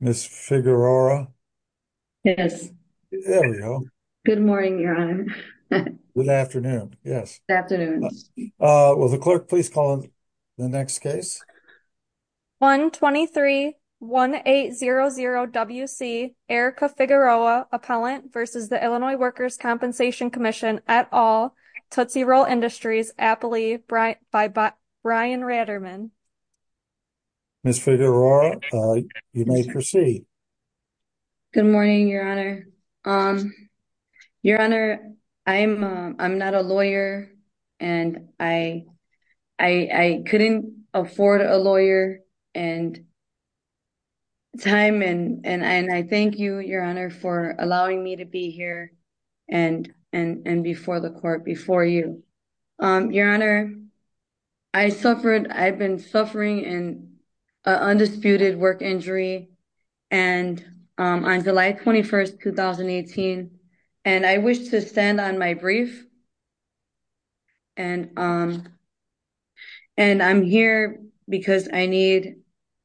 Ms. Figueroa? Yes. There we go. Good morning, Your Honor. Good afternoon, yes. Will the clerk please call the next case? 123-1800-WC, Erica Figueroa, Appellant v. Illinois Workers' Compensation Comm'n, et al., Tootsie Roll Industries, Appalee, by Brian Raderman. Ms. Figueroa, you may proceed. Good morning, Your Honor. Your Honor, I'm not a lawyer, and I couldn't afford a lawyer and time, and I thank you, Your Honor, for allowing me to be here and before the court, before you. Your Honor, I've been suffering an undisputed work injury on July 21, 2018, and I wish to stand on my brief, and I'm here because I need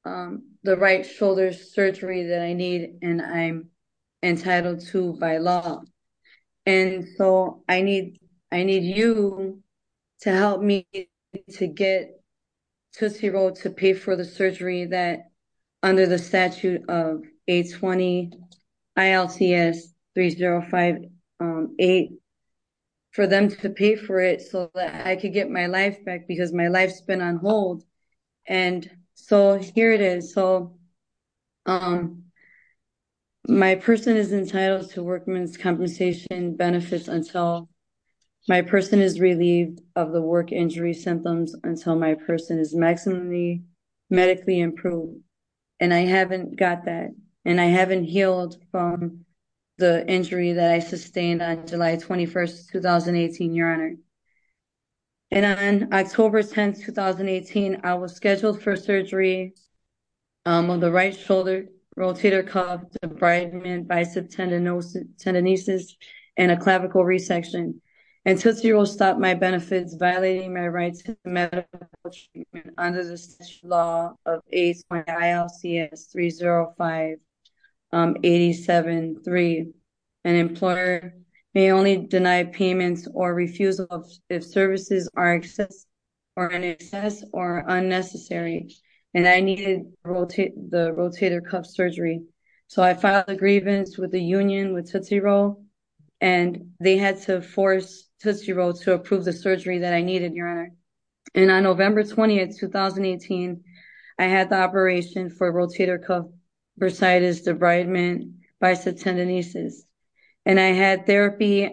the right shoulder surgery that I need, and I'm entitled to by law. And so I need you to help me to get Tootsie Roll to pay for the surgery that, under the statute of 820-ILCS-3058, for them to pay for it so that I can get my life back because my life's been on hold. And so here it is. So my person is entitled to workman's compensation benefits until my person is relieved of the work injury symptoms until my person is maximally medically improved. And I haven't got that, and I haven't healed from the injury that I sustained on July 21, 2018, Your Honor. And on October 10, 2018, I was scheduled for surgery on the right shoulder, rotator cuff, debridement, bicep tendonosis, and a clavicle resection. And Tootsie Roll stopped my benefits, violating my rights to medical treatment under the law of 820-ILCS-30587-3. An employer may only deny payments or refusal if services are in excess or unnecessary, and I needed the rotator cuff surgery. So I filed a grievance with the union, with Tootsie Roll, and they had to force Tootsie Roll to approve the surgery that I needed, Your Honor. And on November 20, 2018, I had the operation for rotator cuff bursitis, debridement, bicep tendonosis. And I had therapy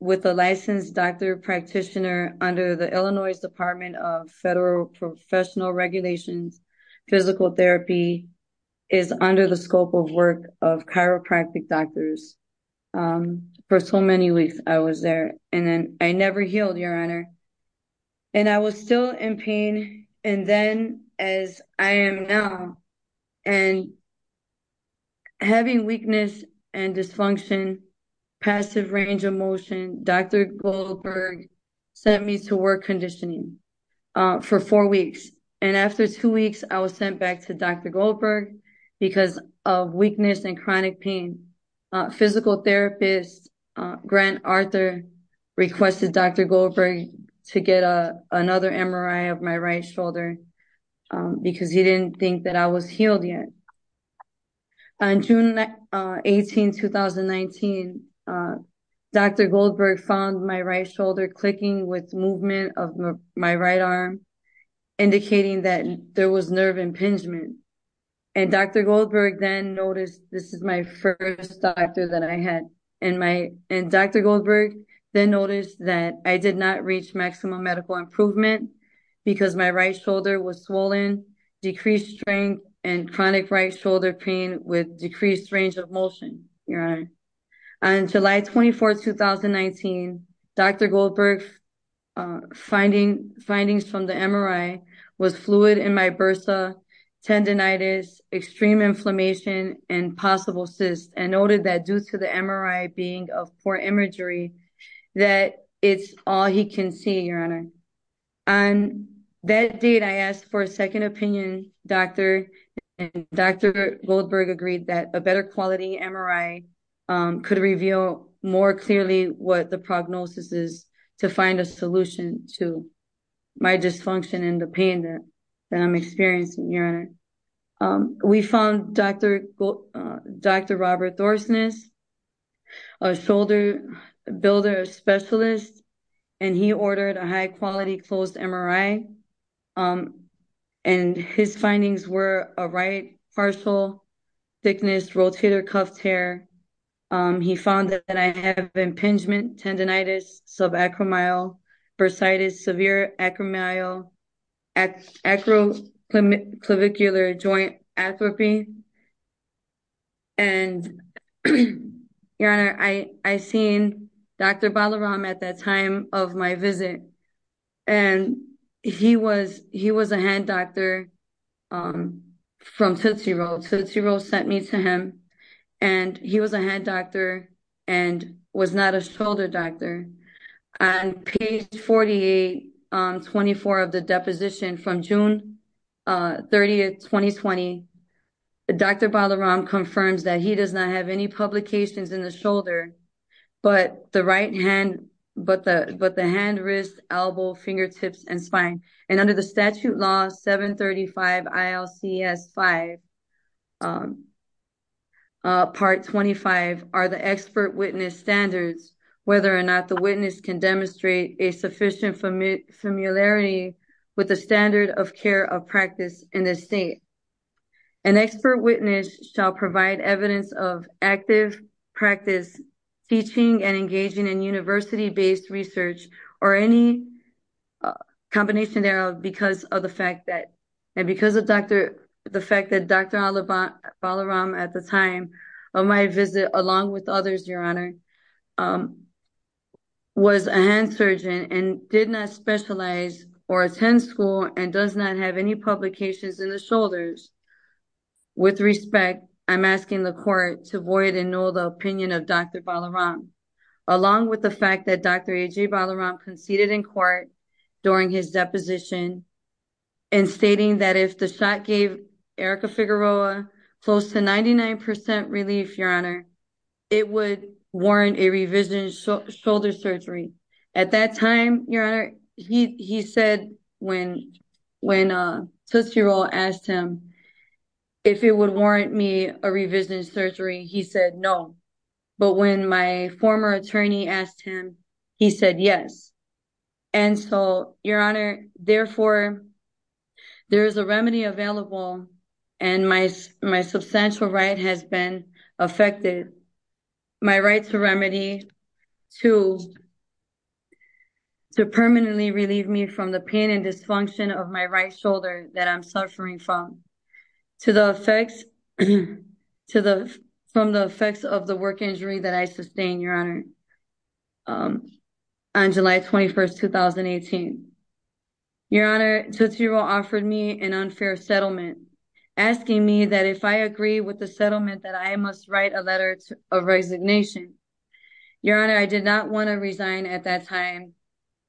with a licensed doctor practitioner under the Illinois Department of Federal Professional Regulations. Physical therapy is under the scope of work of chiropractic doctors. For so many weeks, I was there, and I never healed, Your Honor. And I was still in pain, and then, as I am now, and having weakness and dysfunction, passive range of motion, Dr. Goldberg sent me to work conditioning for four weeks. And after two weeks, I was sent back to Dr. Goldberg because of weakness and chronic pain. Physical therapist Grant Arthur requested Dr. Goldberg to get another MRI of my right shoulder because he didn't think that I was healed yet. On June 18, 2019, Dr. Goldberg found my right shoulder clicking with movement of my right arm, indicating that there was nerve impingement. And Dr. Goldberg then noticed that I did not reach maximum medical improvement because my right shoulder was swollen, decreased strength, and chronic right shoulder pain with decreased range of motion, Your Honor. On July 24, 2019, Dr. Goldberg's findings from the MRI was fluid in my bursa, tendonitis, extreme inflammation, and possible cysts, and noted that due to the MRI being of poor imagery, that it's all he can see, Your Honor. On that date, I asked for a second opinion, and Dr. Goldberg agreed that a better quality MRI could reveal more clearly what the prognosis is to find a solution to my dysfunction and the pain that I'm experiencing, Your Honor. We found Dr. Robert Thorsness, a shoulder builder specialist, and he ordered a high-quality closed MRI, and his findings were a right partial thickness rotator cuff tear. He found that I have impingement, tendonitis, subacromial bursitis, severe acromial, acroclavicular joint atrophy, and, Your Honor, I seen Dr. Balaram at that time of my visit, and he was a hand doctor from Tootsie Roll. Tootsie Roll sent me to him, and he was a hand doctor and was not a shoulder doctor. On page 4824 of the deposition from June 30, 2020, Dr. Balaram confirms that he does not have any publications in the shoulder but the hand, wrist, elbow, fingertips, and spine. And under the statute law 735 ILCS 5, part 25, are the expert witness standards, whether or not the witness can demonstrate a sufficient familiarity with the standard of care of practice in the state. An expert witness shall provide evidence of active practice teaching and engaging in university-based research or any combination thereof because of the fact that Dr. Balaram at the time of my visit, along with others, Your Honor, was a hand surgeon and did not specialize or attend school and does not have any publications in the shoulders. With respect, I'm asking the court to void and null the opinion of Dr. Balaram, along with the fact that Dr. AJ Balaram conceded in court during his deposition and stating that if the shot gave Erica Figueroa close to 99% relief, Your Honor, it would warrant a revision in shoulder surgery. At that time, Your Honor, he said when Figueroa asked him if it would warrant me a revision in surgery, he said no. But when my former attorney asked him, he said yes. And so, Your Honor, therefore, there is a remedy available and my substantial right has been affected. My right to remedy to permanently relieve me from the pain and dysfunction of my right shoulder that I'm suffering from to the effects of the work injury that I sustained, Your Honor, on July 21st, 2018. Your Honor, Dr. Figueroa offered me an unfair settlement, asking me that if I agree with the settlement, that I must write a letter of resignation. Your Honor, I did not want to resign at that time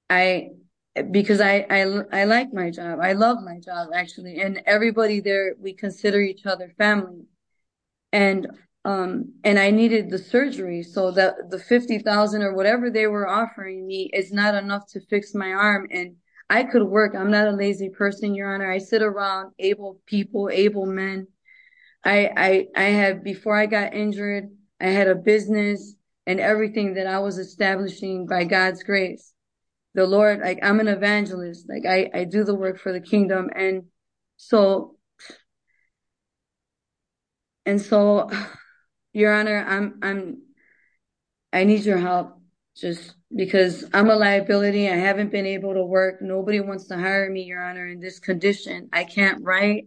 because I like my job. I love my job, actually, and everybody there, we consider each other family. And I needed the surgery so that the $50,000 or whatever they were offering me is not enough to fix my arm and I could work. I'm not a lazy person, Your Honor. I sit around able people, able men. Before I got injured, I had a business and everything that I was establishing by God's grace. I'm an evangelist. I do the work for the kingdom. And so, Your Honor, I need your help just because I'm a liability. I haven't been able to work. Nobody wants to hire me, Your Honor, in this condition. I can't write.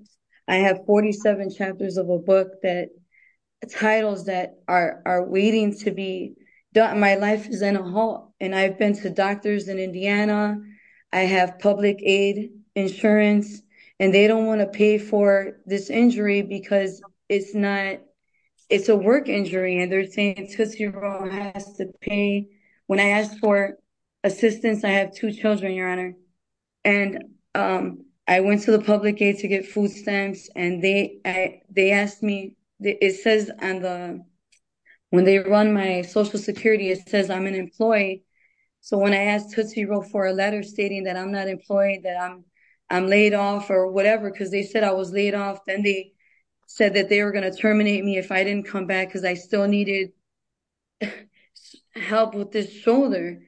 I have 47 chapters of a book that titles that are waiting to be done. My life is in a halt. And I've been to doctors in Indiana. I have public aid insurance. And they don't want to pay for this injury because it's a work injury. And they're saying Tootsie Roll has to pay. When I asked for assistance, I have two children, Your Honor. And I went to the public aid to get food stamps. When they run my social security, it says I'm unemployed. So, when I asked Tootsie Roll for a letter stating that I'm not employed, that I'm laid off or whatever, because they said I was laid off, then they said that they were going to terminate me if I didn't come back because I still needed help with this shoulder.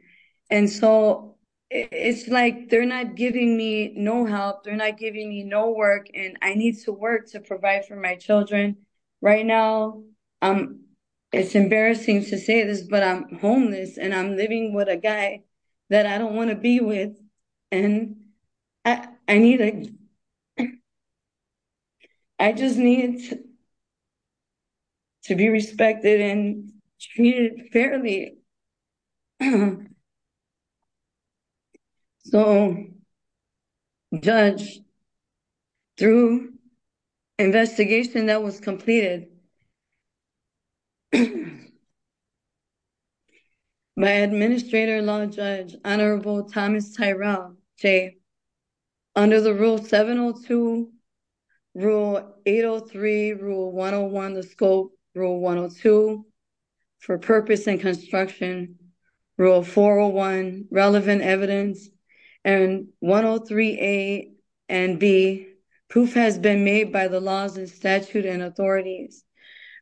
And so, it's like they're not giving me no help. They're not giving me no work. And I need to work to provide for my children. And right now, it's embarrassing to say this, but I'm homeless, and I'm living with a guy that I don't want to be with. And I just need to be respected and treated fairly. So, Judge, through investigation that was completed, my Administrator-in-Law Judge, Honorable Thomas Tyrell, under the Rule 702, Rule 803, Rule 101, the scope, Rule 102, for purpose and construction, Rule 401, relevant evidence, and 103A and 103B, proof has been made by the laws and statute and authorities,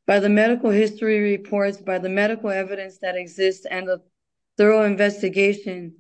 by the medical history reports, by the medical evidence that exists, and the thorough investigation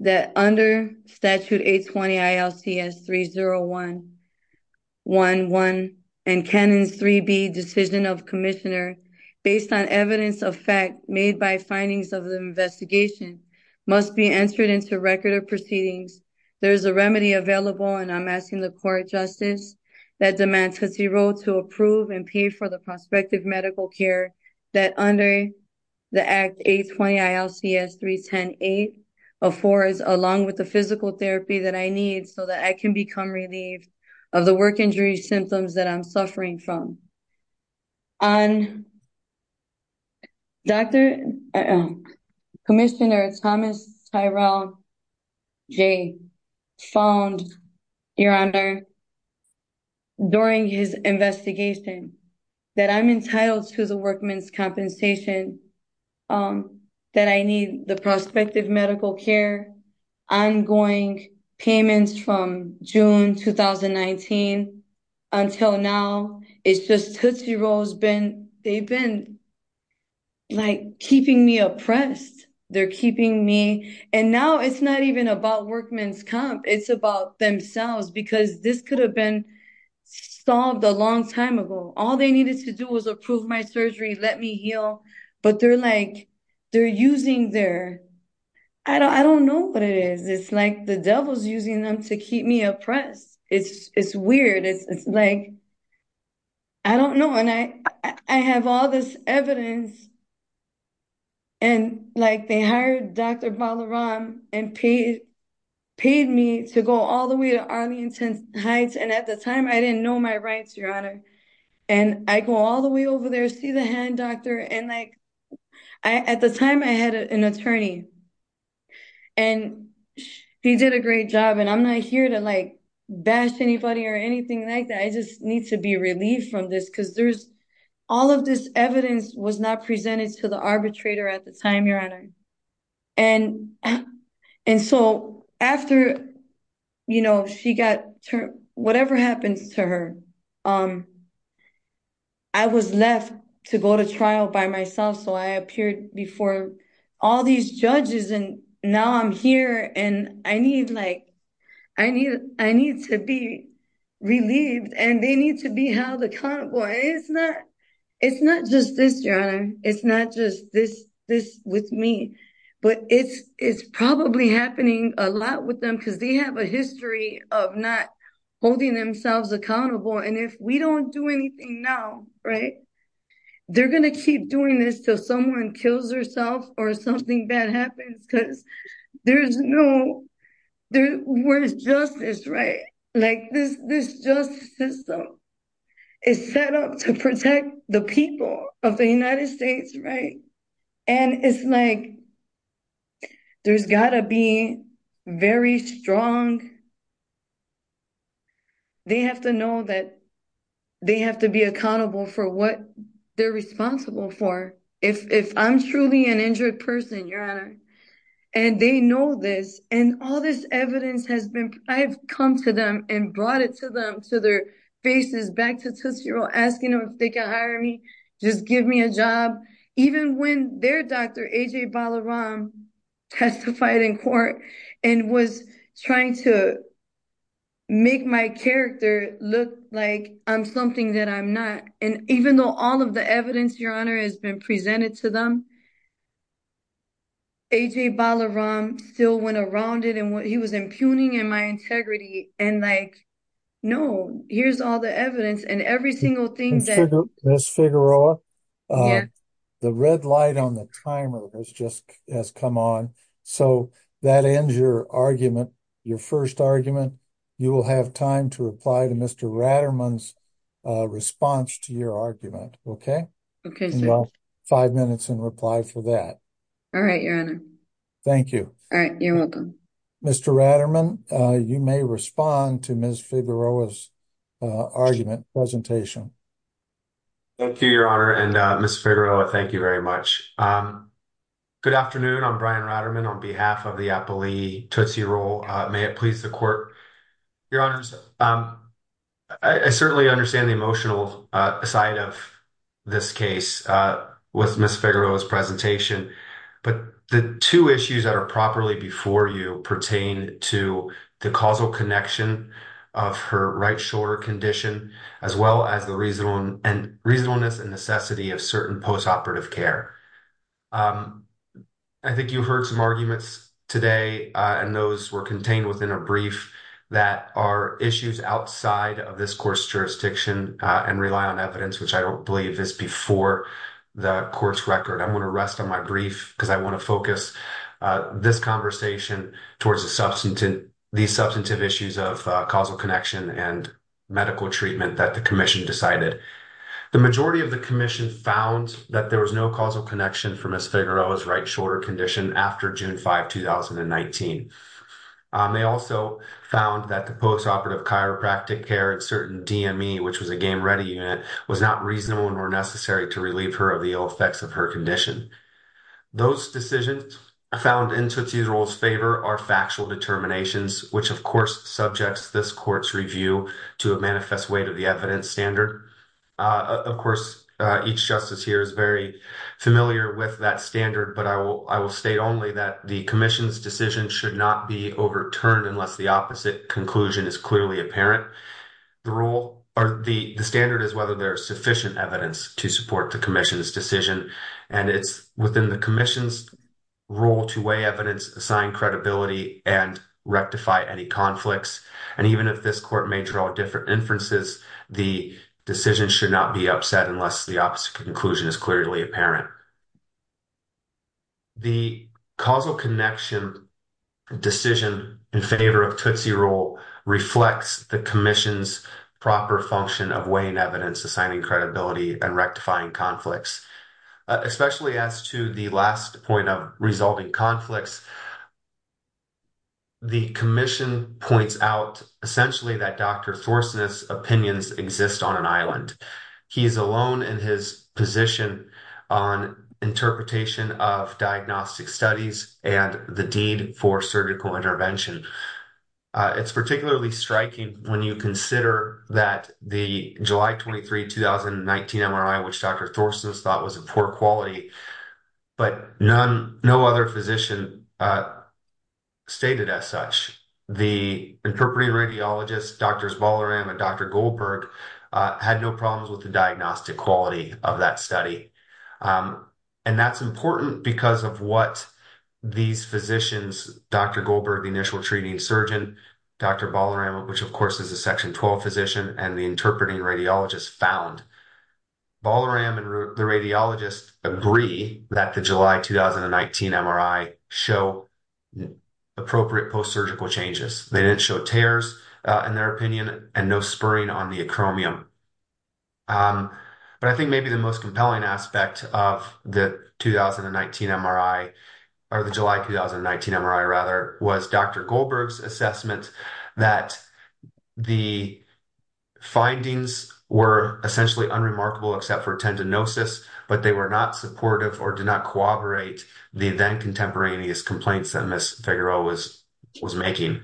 that under Statute 820 ILCS 30111 and Canon 3B, Decision of Commissioner, based on evidence of fact made by findings of the investigation, must be entered into record of proceedings. There is a remedy available, and I'm asking the Court of Justice that demands that he wrote to approve and pay for the prospective medical care that under the Act 820 ILCS 3108-4, along with the physical therapy that I need so that I can become relieved of the work injury symptoms that I'm suffering from. Commissioner Thomas Tyrell, Jay, phoned Your Honor during his investigation that I'm entitled to the workman's compensation, that I need the prospective medical care, ongoing payments from June 2019 until now. It's just Tootsie Roll's been, they've been, like, keeping me oppressed. They're keeping me, and now it's not even about workman's comp. It's about themselves, because this could have been solved a long time ago. All they needed to do was approve my surgery, let me heal, but they're, like, they're using their, I don't know what it is. It's like the devil's using them to keep me oppressed. It's weird. It's, like, I don't know, and I have all this evidence, and, like, they hired Dr. Balaram and paid me to go all the way to Arlington Heights, and at the time, I didn't know my rights, Your Honor, and I go all the way over there, see the hand doctor, and, like, at the time, I had an attorney, and he did a great job, and I'm not here to, like, bash anybody or anything like that. I just need to be relieved from this, because there's, all of this evidence was not presented to the arbitrator at the time, Your Honor, and so after, you know, she got, whatever happens to her, I was left to go to trial by myself, so I appeared before all these judges, and now I'm here, and I need, like, I need to be relieved, and they need to be held accountable, and it's not just this, Your Honor. It's not just this with me, but it's probably happening a lot with them, because they have a history of not holding themselves accountable, and if we don't do anything now, right, they're going to keep doing this until someone kills themselves or something bad happens, because there's no, where's justice, right? Like, this justice system is set up to protect the people of the United States, right, and it's like there's got to be very strong, they have to know that they have to be accountable for what they're responsible for. If I'm truly an injured person, Your Honor, and they know this, and all this evidence has been, I've come to them and brought it to them, to their faces, back to Tootsie Roll, asking them if they can hire me, just give me a job, even when their doctor, A.J. Balaram, testified in court and was trying to make my character look like I'm something that I'm not, and even though all of the evidence, Your Honor, has been presented to them, A.J. Balaram still went around it, and he was impugning my integrity, and like, no, here's all the evidence, and every single thing that Ms. Figueroa, the red light on the timer has just come on, so that ends your argument, your first argument. You will have time to reply to Mr. Raderman's response to your argument, okay? Okay, sir. Well, five minutes in reply for that. All right, Your Honor. Thank you. All right, you're welcome. Mr. Raderman, you may respond to Ms. Figueroa's argument, presentation. Thank you, Your Honor, and Ms. Figueroa, thank you very much. Good afternoon, I'm Brian Raderman on behalf of the Appali Tootsie Roll. May it please the court. Your Honors, I certainly understand the emotional side of this case with Ms. Figueroa's presentation, but the two issues that are properly before you pertain to the causal connection of her right shoulder condition, as well as the reasonableness and necessity of certain postoperative care. I think you heard some arguments today, and those were contained within a brief, that are issues outside of this court's jurisdiction and rely on evidence, which I don't believe is before the court's record. I'm going to rest on my brief because I want to focus this conversation towards the substantive issues of causal connection and medical treatment that the commission decided. The majority of the commission found that there was no causal connection for June 5, 2019. They also found that the postoperative chiropractic care at certain DME, which was a game-ready unit, was not reasonable nor necessary to relieve her of the ill effects of her condition. Those decisions found in Tootsie Roll's favor are factual determinations, which of course subjects this court's review to a manifest way to the evidence standard. Of course, each justice here is very familiar with that standard, but I will state only that the commission's decision should not be overturned unless the opposite conclusion is clearly apparent. The standard is whether there's sufficient evidence to support the commission's decision. And it's within the commission's role to weigh evidence, assign credibility, and rectify any conflicts. And even if this court may draw different inferences, the decision should not be upset unless the opposite conclusion is clearly apparent. The causal connection decision in favor of Tootsie Roll reflects the commission's proper function of weighing evidence, assigning credibility, and rectifying conflicts. Especially as to the last point of resulting conflicts, the commission points out essentially that Dr. Thorson's opinions exist on an island. He's alone in his position on interpretation of diagnostic studies and the deed for surgical intervention. It's particularly striking when you consider that the July 23, 2019 MRI, which Dr. Thorson's thought was a poor quality, but none, no other physician stated as such. The interpreting radiologist, Drs. Ballaram and Dr. Goldberg had no problems with the diagnostic quality of that study. And that's important because of what these physicians, Dr. Goldberg, the initial treating surgeon, Dr. Ballaram, which of course is a section 12 physician and the interpreting radiologist found. Ballaram and the radiologist agree that the July, 2019 MRI show appropriate post-surgical changes. They didn't show tears in their opinion and no spurring on the acromion. But I think maybe the most compelling aspect of the 2019 MRI or the July, 2019 MRI rather was Dr. Goldberg's assessment that the findings were essentially unremarkable except for tendinosis, but they were not supportive or did not corroborate the then contemporaneous complaints that Ms. Figueroa was making.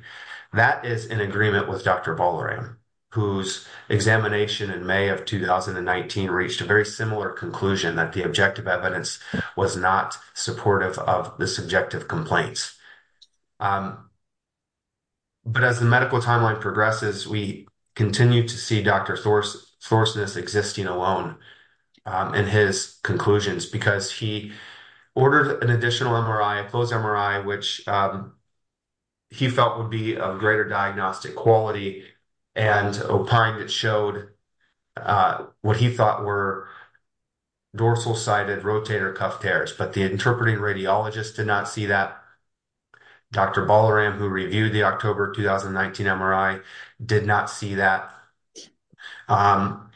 That is in agreement with Dr. Ballaram, whose examination in May of 2019 reached a very similar conclusion that the objective evidence was not supportive of the subjective complaints. But as the medical timeline progresses, we continue to see Dr. Goldberg in his conclusions because he ordered an additional MRI, a closed MRI, which he felt would be of greater diagnostic quality and opined it showed what he thought were dorsal-sided rotator cuff tears. But the interpreting radiologist did not see that. Dr. Ballaram, who reviewed the October, 2019 MRI, did not see that. And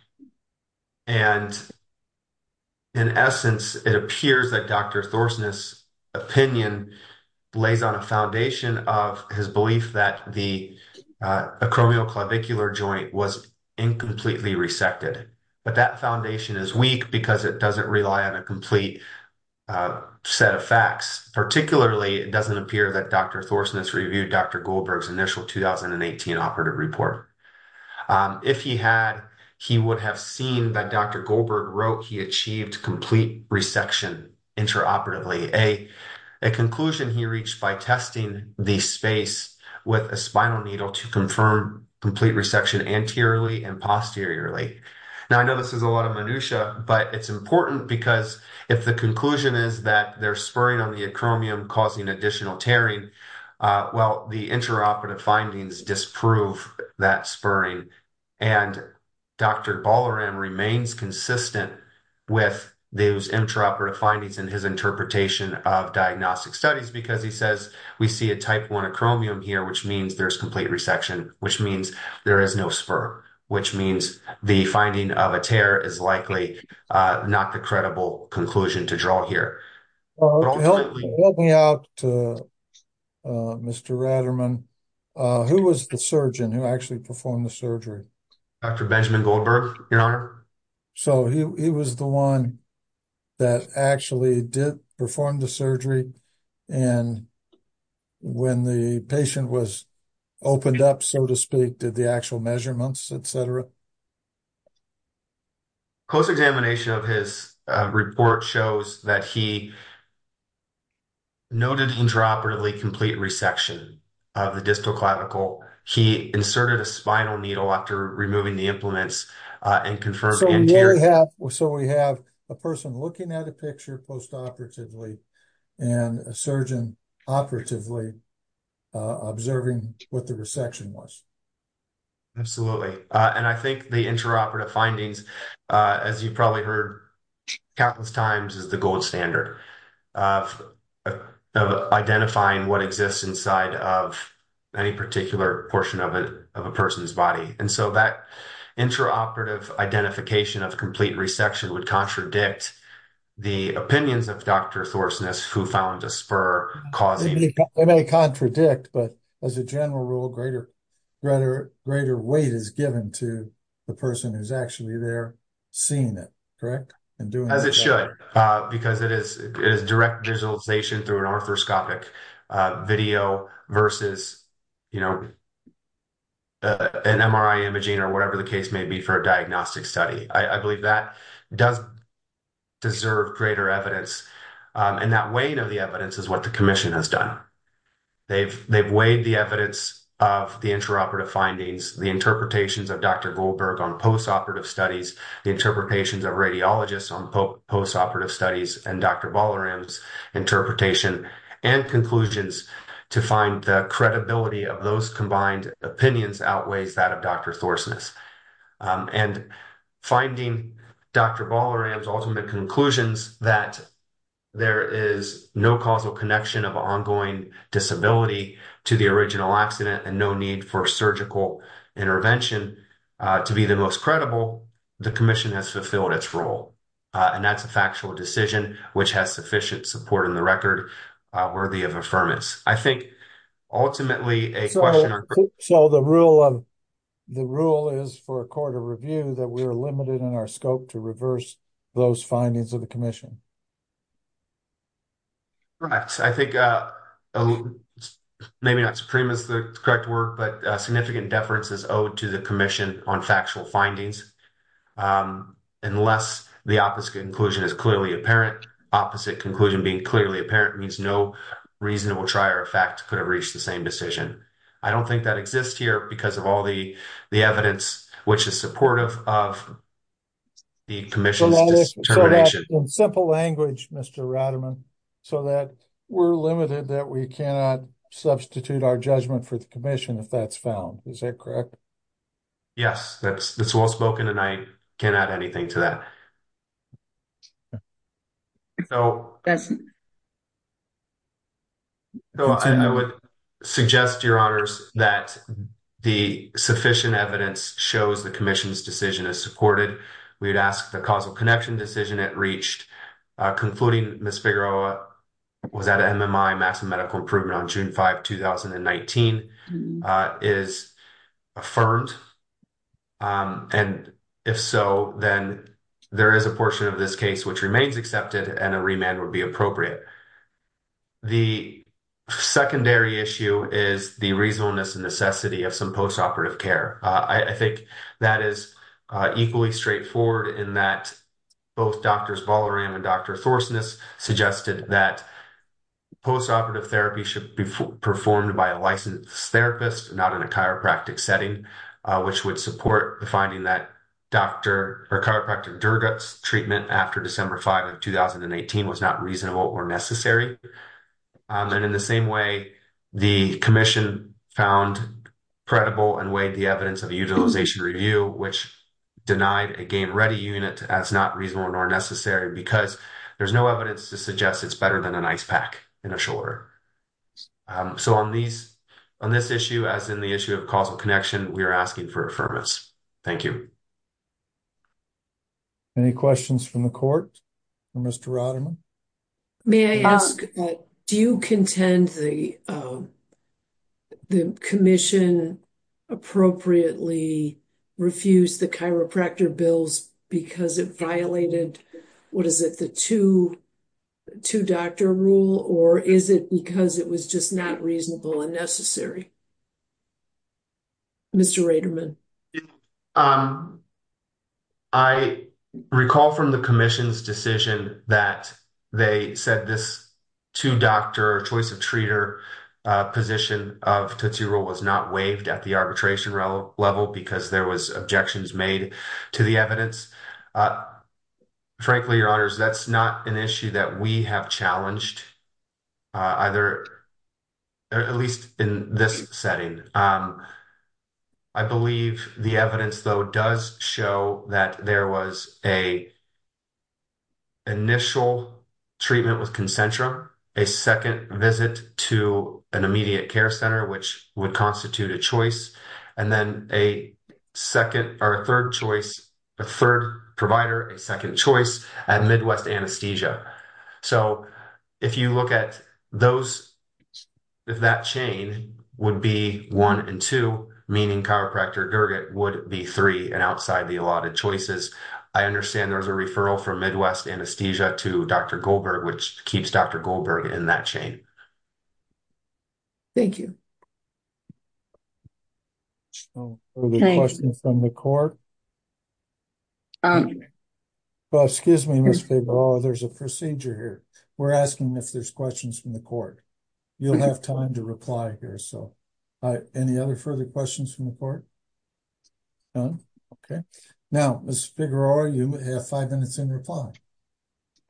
in essence, it appears that Dr. Thorsnes' opinion lays on a foundation of his belief that the acromioclavicular joint was incompletely resected. But that foundation is weak because it doesn't rely on a complete set of facts, particularly it doesn't appear that Dr. Thorsnes reviewed Dr. Goldberg's initial 2018 operative report. If he had, he would have seen that Dr. Goldberg wrote he achieved complete resection interoperatively, a conclusion he reached by testing the space with a spinal needle to confirm complete resection anteriorly and posteriorly. Now, I know this is a lot of minutiae, but it's important because if the conclusion is that they're spurring on the acromion causing additional tearing, well, the interoperative findings disprove that spurring. And Dr. Ballaram remains consistent with those interoperative findings in his interpretation of diagnostic studies because he says we see a type I acromion here, which means there's complete resection, which means there is no spur, which means the finding of a tear is likely not the credible conclusion to draw here. Help me out, Mr. Raderman. Who was the surgeon who actually performed the surgery? Dr. Benjamin Goldberg, Your Honor. So he was the one that actually did perform the surgery. And when the patient was opened up, so to speak, did the actual measurements, et cetera. Close examination of his report shows that he noted interoperatively complete resection of the distal clavicle. He inserted a spinal needle after removing the implements and confirmed anterior. So we have a person looking at a picture postoperatively and a surgeon operatively observing what the resection was. Absolutely. And I think the interoperative findings, as you probably heard countless times, is the gold standard of identifying what exists inside of any particular portion of a person's body. And so that interoperative identification of complete resection would contradict the opinions of Dr. Thorsness, who found a spur causing. They may contradict, but as a general rule, greater, greater, greater weight is given to the person who's actually there seeing it. Correct. As it should, because it is direct visualization through an orthoscopic video versus, you know, an MRI imaging or whatever the case may be for a diagnostic study. I believe that does deserve greater evidence. And that weight of the evidence is what the commission has done. They've weighed the evidence of the interoperative findings, the interpretations of Dr. Goldberg on postoperative studies, the interpretations of radiologists on postoperative studies, and Dr. Bolloram's interpretation and conclusions to find the credibility of those combined opinions outweighs that of Dr. Thorsness. And finding Dr. Bolloram's ultimate conclusions that there is no causal connection of ongoing disability to the original accident and no need for surgical intervention to be the most credible, the commission has fulfilled its role. And that's a factual decision, which has sufficient support in the record worthy of affirmance. So the rule is for a court of review that we are limited in our scope to reverse those findings of the commission. Right. I think maybe not supreme is the correct word, but significant deference is owed to the commission on factual findings unless the opposite conclusion is clearly apparent. I don't think that exists here because of all the evidence which is supportive of the commission's determination. In simple language, Mr. Rademan, so that we're limited that we cannot substitute our judgment for the commission if that's found. Is that correct? Yes, that's well spoken. And I cannot add anything to that. So I would suggest, Your Honors, that the sufficient evidence shows the commission's decision is supported. We would ask the causal connection decision it reached, concluding Ms. Figueroa was at an MMI, Massive Medical Improvement on June 5, 2019, is affirmed. And if so, then I would ask that the commission's decision be supported. There is a portion of this case which remains accepted and a remand would be appropriate. The secondary issue is the reasonableness and necessity of some postoperative care. I think that is equally straightforward in that both Drs. Bolloran and Dr. Thorsness suggested that postoperative therapy should be performed by a licensed therapist, not in a chiropractic setting, which would support the finding that chiropractic Durgat's treatment after December 5 of 2018 was not reasonable or necessary. And in the same way, the commission found credible and weighed the evidence of a utilization review, which denied a gain-ready unit as not reasonable nor necessary because there's no evidence to suggest it's better than an ice pack in a shoulder. So on this issue, as in the issue of causal connection, we are asking for affirmance. Thank you. Any questions from the court for Mr. Roderman? May I ask, do you contend the commission appropriately refused the chiropractor bills because it violated, what is it, the two-doctor rule, or is it because it was just not reasonable and necessary? Mr. Roderman. I recall from the commission's decision that they said this two-doctor choice-of-treater position of two-rule was not waived at the arbitration level because there was objections made to the evidence. Frankly, Your Honors, that's not an issue that we have challenged either, at least in this setting. I believe the evidence, though, does show that there was an initial treatment with Concentra, a second visit to an immediate care center, which would constitute a choice, and then a second or a third choice, a third provider, a second choice at Midwest Anesthesia. So if you look at those, if that chain would be one and two, meaning chiropractor Durgat would be three and outside the allotted choices, I understand there was a referral from Midwest Anesthesia to Dr. Goldberg, which keeps Dr. Goldberg in that chain. Thank you. Any questions from the court? Excuse me, Ms. Figueroa. There's a procedure here. We're asking if there's questions from the court. You'll have time to reply here. Any other further questions from the court? None? Okay. Now, Ms. Figueroa, you have five minutes in reply.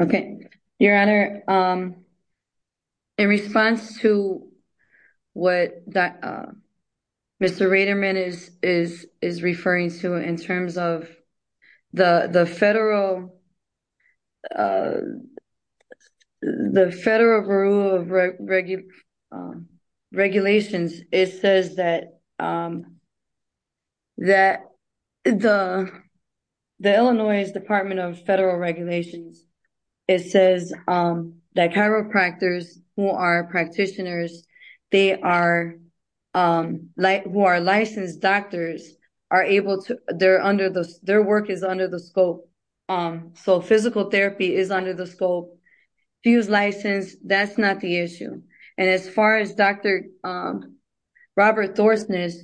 Okay. Your Honor, in response to what Mr. Raterman is referring to in terms of the federal rule of regulations, it says that the Illinois Department of It says that chiropractors who are practitioners, who are licensed doctors, their work is under the scope. So physical therapy is under the scope. If he was licensed, that's not the issue. And as far as Dr. Robert Thorsness,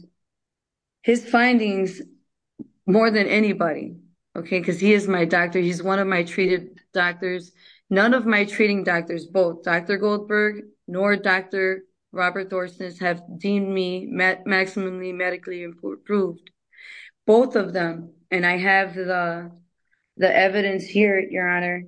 his findings, more than anybody, because he is my doctor. None of my treating doctors, both Dr. Goldberg nor Dr. Robert Thorsness have deemed me maximally medically improved. Both of them, and I have the evidence here, Your Honor,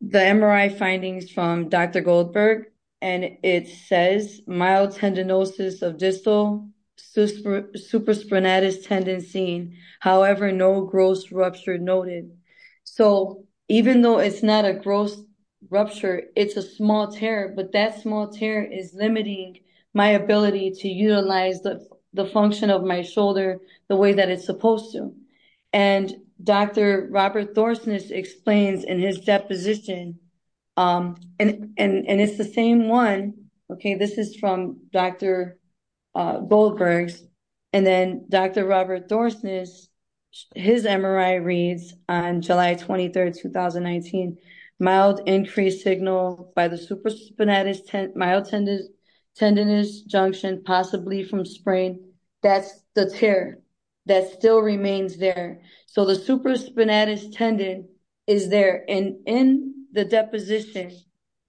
the MRI findings from Dr. Goldberg, and it says mild tendinosis of distal supraspinatus tendency, however, no gross rupture noted. So even though it's not a gross rupture, it's a small tear, but that small tear is limiting my ability to utilize the function of my shoulder the way that it's supposed to. And Dr. Robert Thorsness explains in his deposition, and it's the same one, okay, this is from Dr. Goldberg, and then Dr. Robert Thorsness, his MRI reads on July 23, 2019, mild increased signal by the supraspinatus mild tendinous junction, possibly from sprain. That's the tear that still remains there. So the supraspinatus tendon is there. And in the deposition,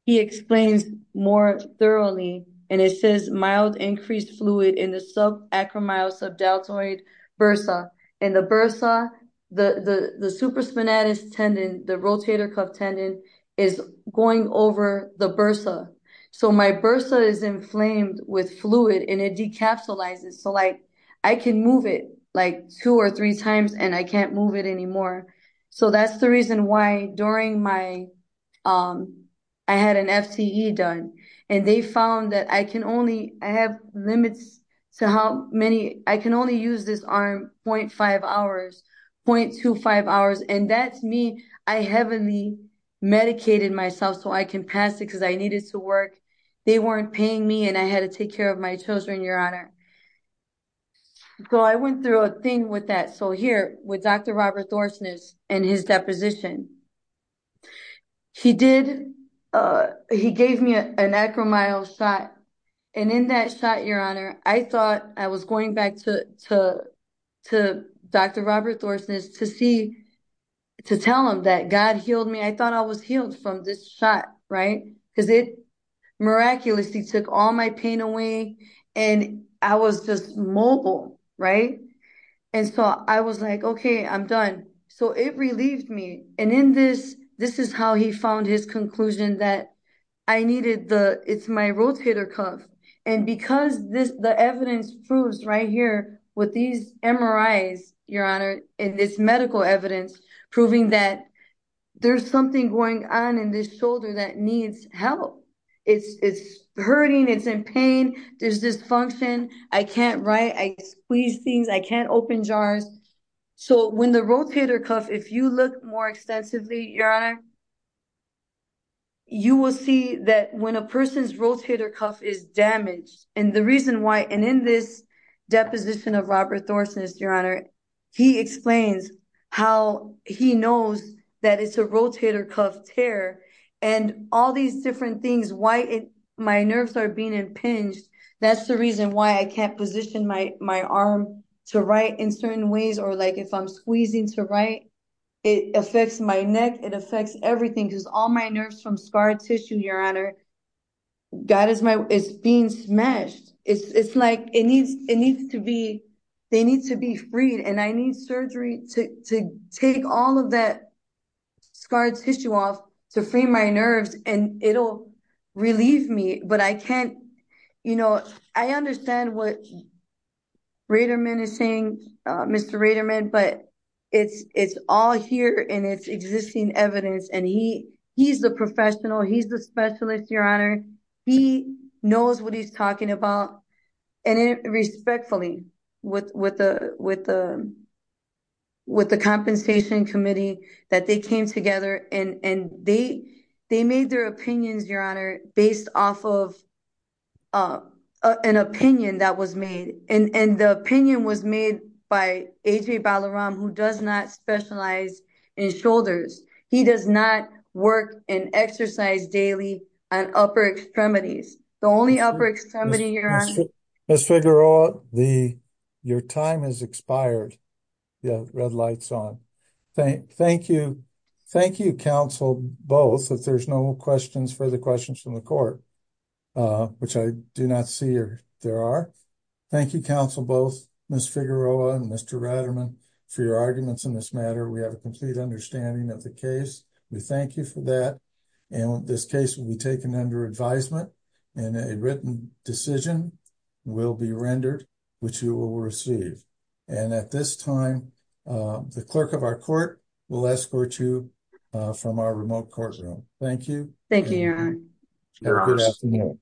he explains more thoroughly, and it says mild increased fluid in the subacromyosubdeltoid bursa. And the bursa, the supraspinatus tendon, the rotator cuff tendon, is going over the bursa. So my bursa is inflamed with fluid, and it decapsulizes. So, like, I can move it, like, two or three times, and I can't move it anymore. So that's the reason why during my – I had an FTE done, and they found that I can only – I have limits to how many – I can only use this arm 0.5 hours, 0.25 hours, and that's me. I heavily medicated myself so I can pass it because I needed to work. They weren't paying me, and I had to take care of my children, Your Honor. So I went through a thing with that. So here, with Dr. Robert Thorsness and his deposition, he did – he gave me an acromyo shot, and in that shot, Your Honor, I thought I was going back to Dr. Robert Thorsness to see – to tell him that God healed me. I thought I was healed from this shot, right, because it miraculously took all my pain away, and I was just mobile, right? And so I was like, okay, I'm done. So it relieved me, and in this – this is how he found his conclusion that I needed the – it's my rotator cuff, and because the evidence proves right here with these MRIs, Your Honor, and this medical evidence proving that there's something going on in this shoulder that needs help. It's hurting, it's in pain, there's dysfunction, I can't write, I squeeze things, I can't open jars. So when the rotator cuff, if you look more extensively, Your Honor, you will see that when a person's rotator cuff is damaged, and the reason why – and in this deposition of Robert Thorsness, Your Honor, he explains how he knows that it's a rotator cuff tear, and all these different things, why my nerves are being impinged, that's the reason why I can't position my arm to write in certain ways, or like if I'm squeezing to write, it affects my neck, it affects everything, because all my nerves from scar tissue, Your Honor, it's being smashed. It's like it needs to be – they need to be freed, and I need surgery to take all of that scar tissue off to free my nerves, and it'll relieve me, but I can't – you know, I understand what Raterman is saying, Mr. Raterman, but it's all here in its existing evidence, and he's the professional, he's the specialist, Your Honor, he knows what he's talking about, and respectfully, with the compensation committee, that they came together and they made their opinions, Your Honor, based off of an opinion that was made, and the opinion was made by A.J. Balaram, who does not specialize in shoulders. He does not work and exercise daily on upper extremities. The only upper extremity, Your Honor – Ms. Figueroa, your time has expired. The red light's on. Thank you, counsel, both, if there's no questions for the questions from the court, which I do not see there are. Thank you, counsel, both, Ms. Figueroa and Mr. Raterman, for your arguments in this matter. We have a complete understanding of the case. We thank you for that, and this case will be taken under advisement, and a written decision will be rendered, which you will receive. And at this time, the clerk of our court will escort you from our remote courtroom. Thank you. Thank you, Your Honor.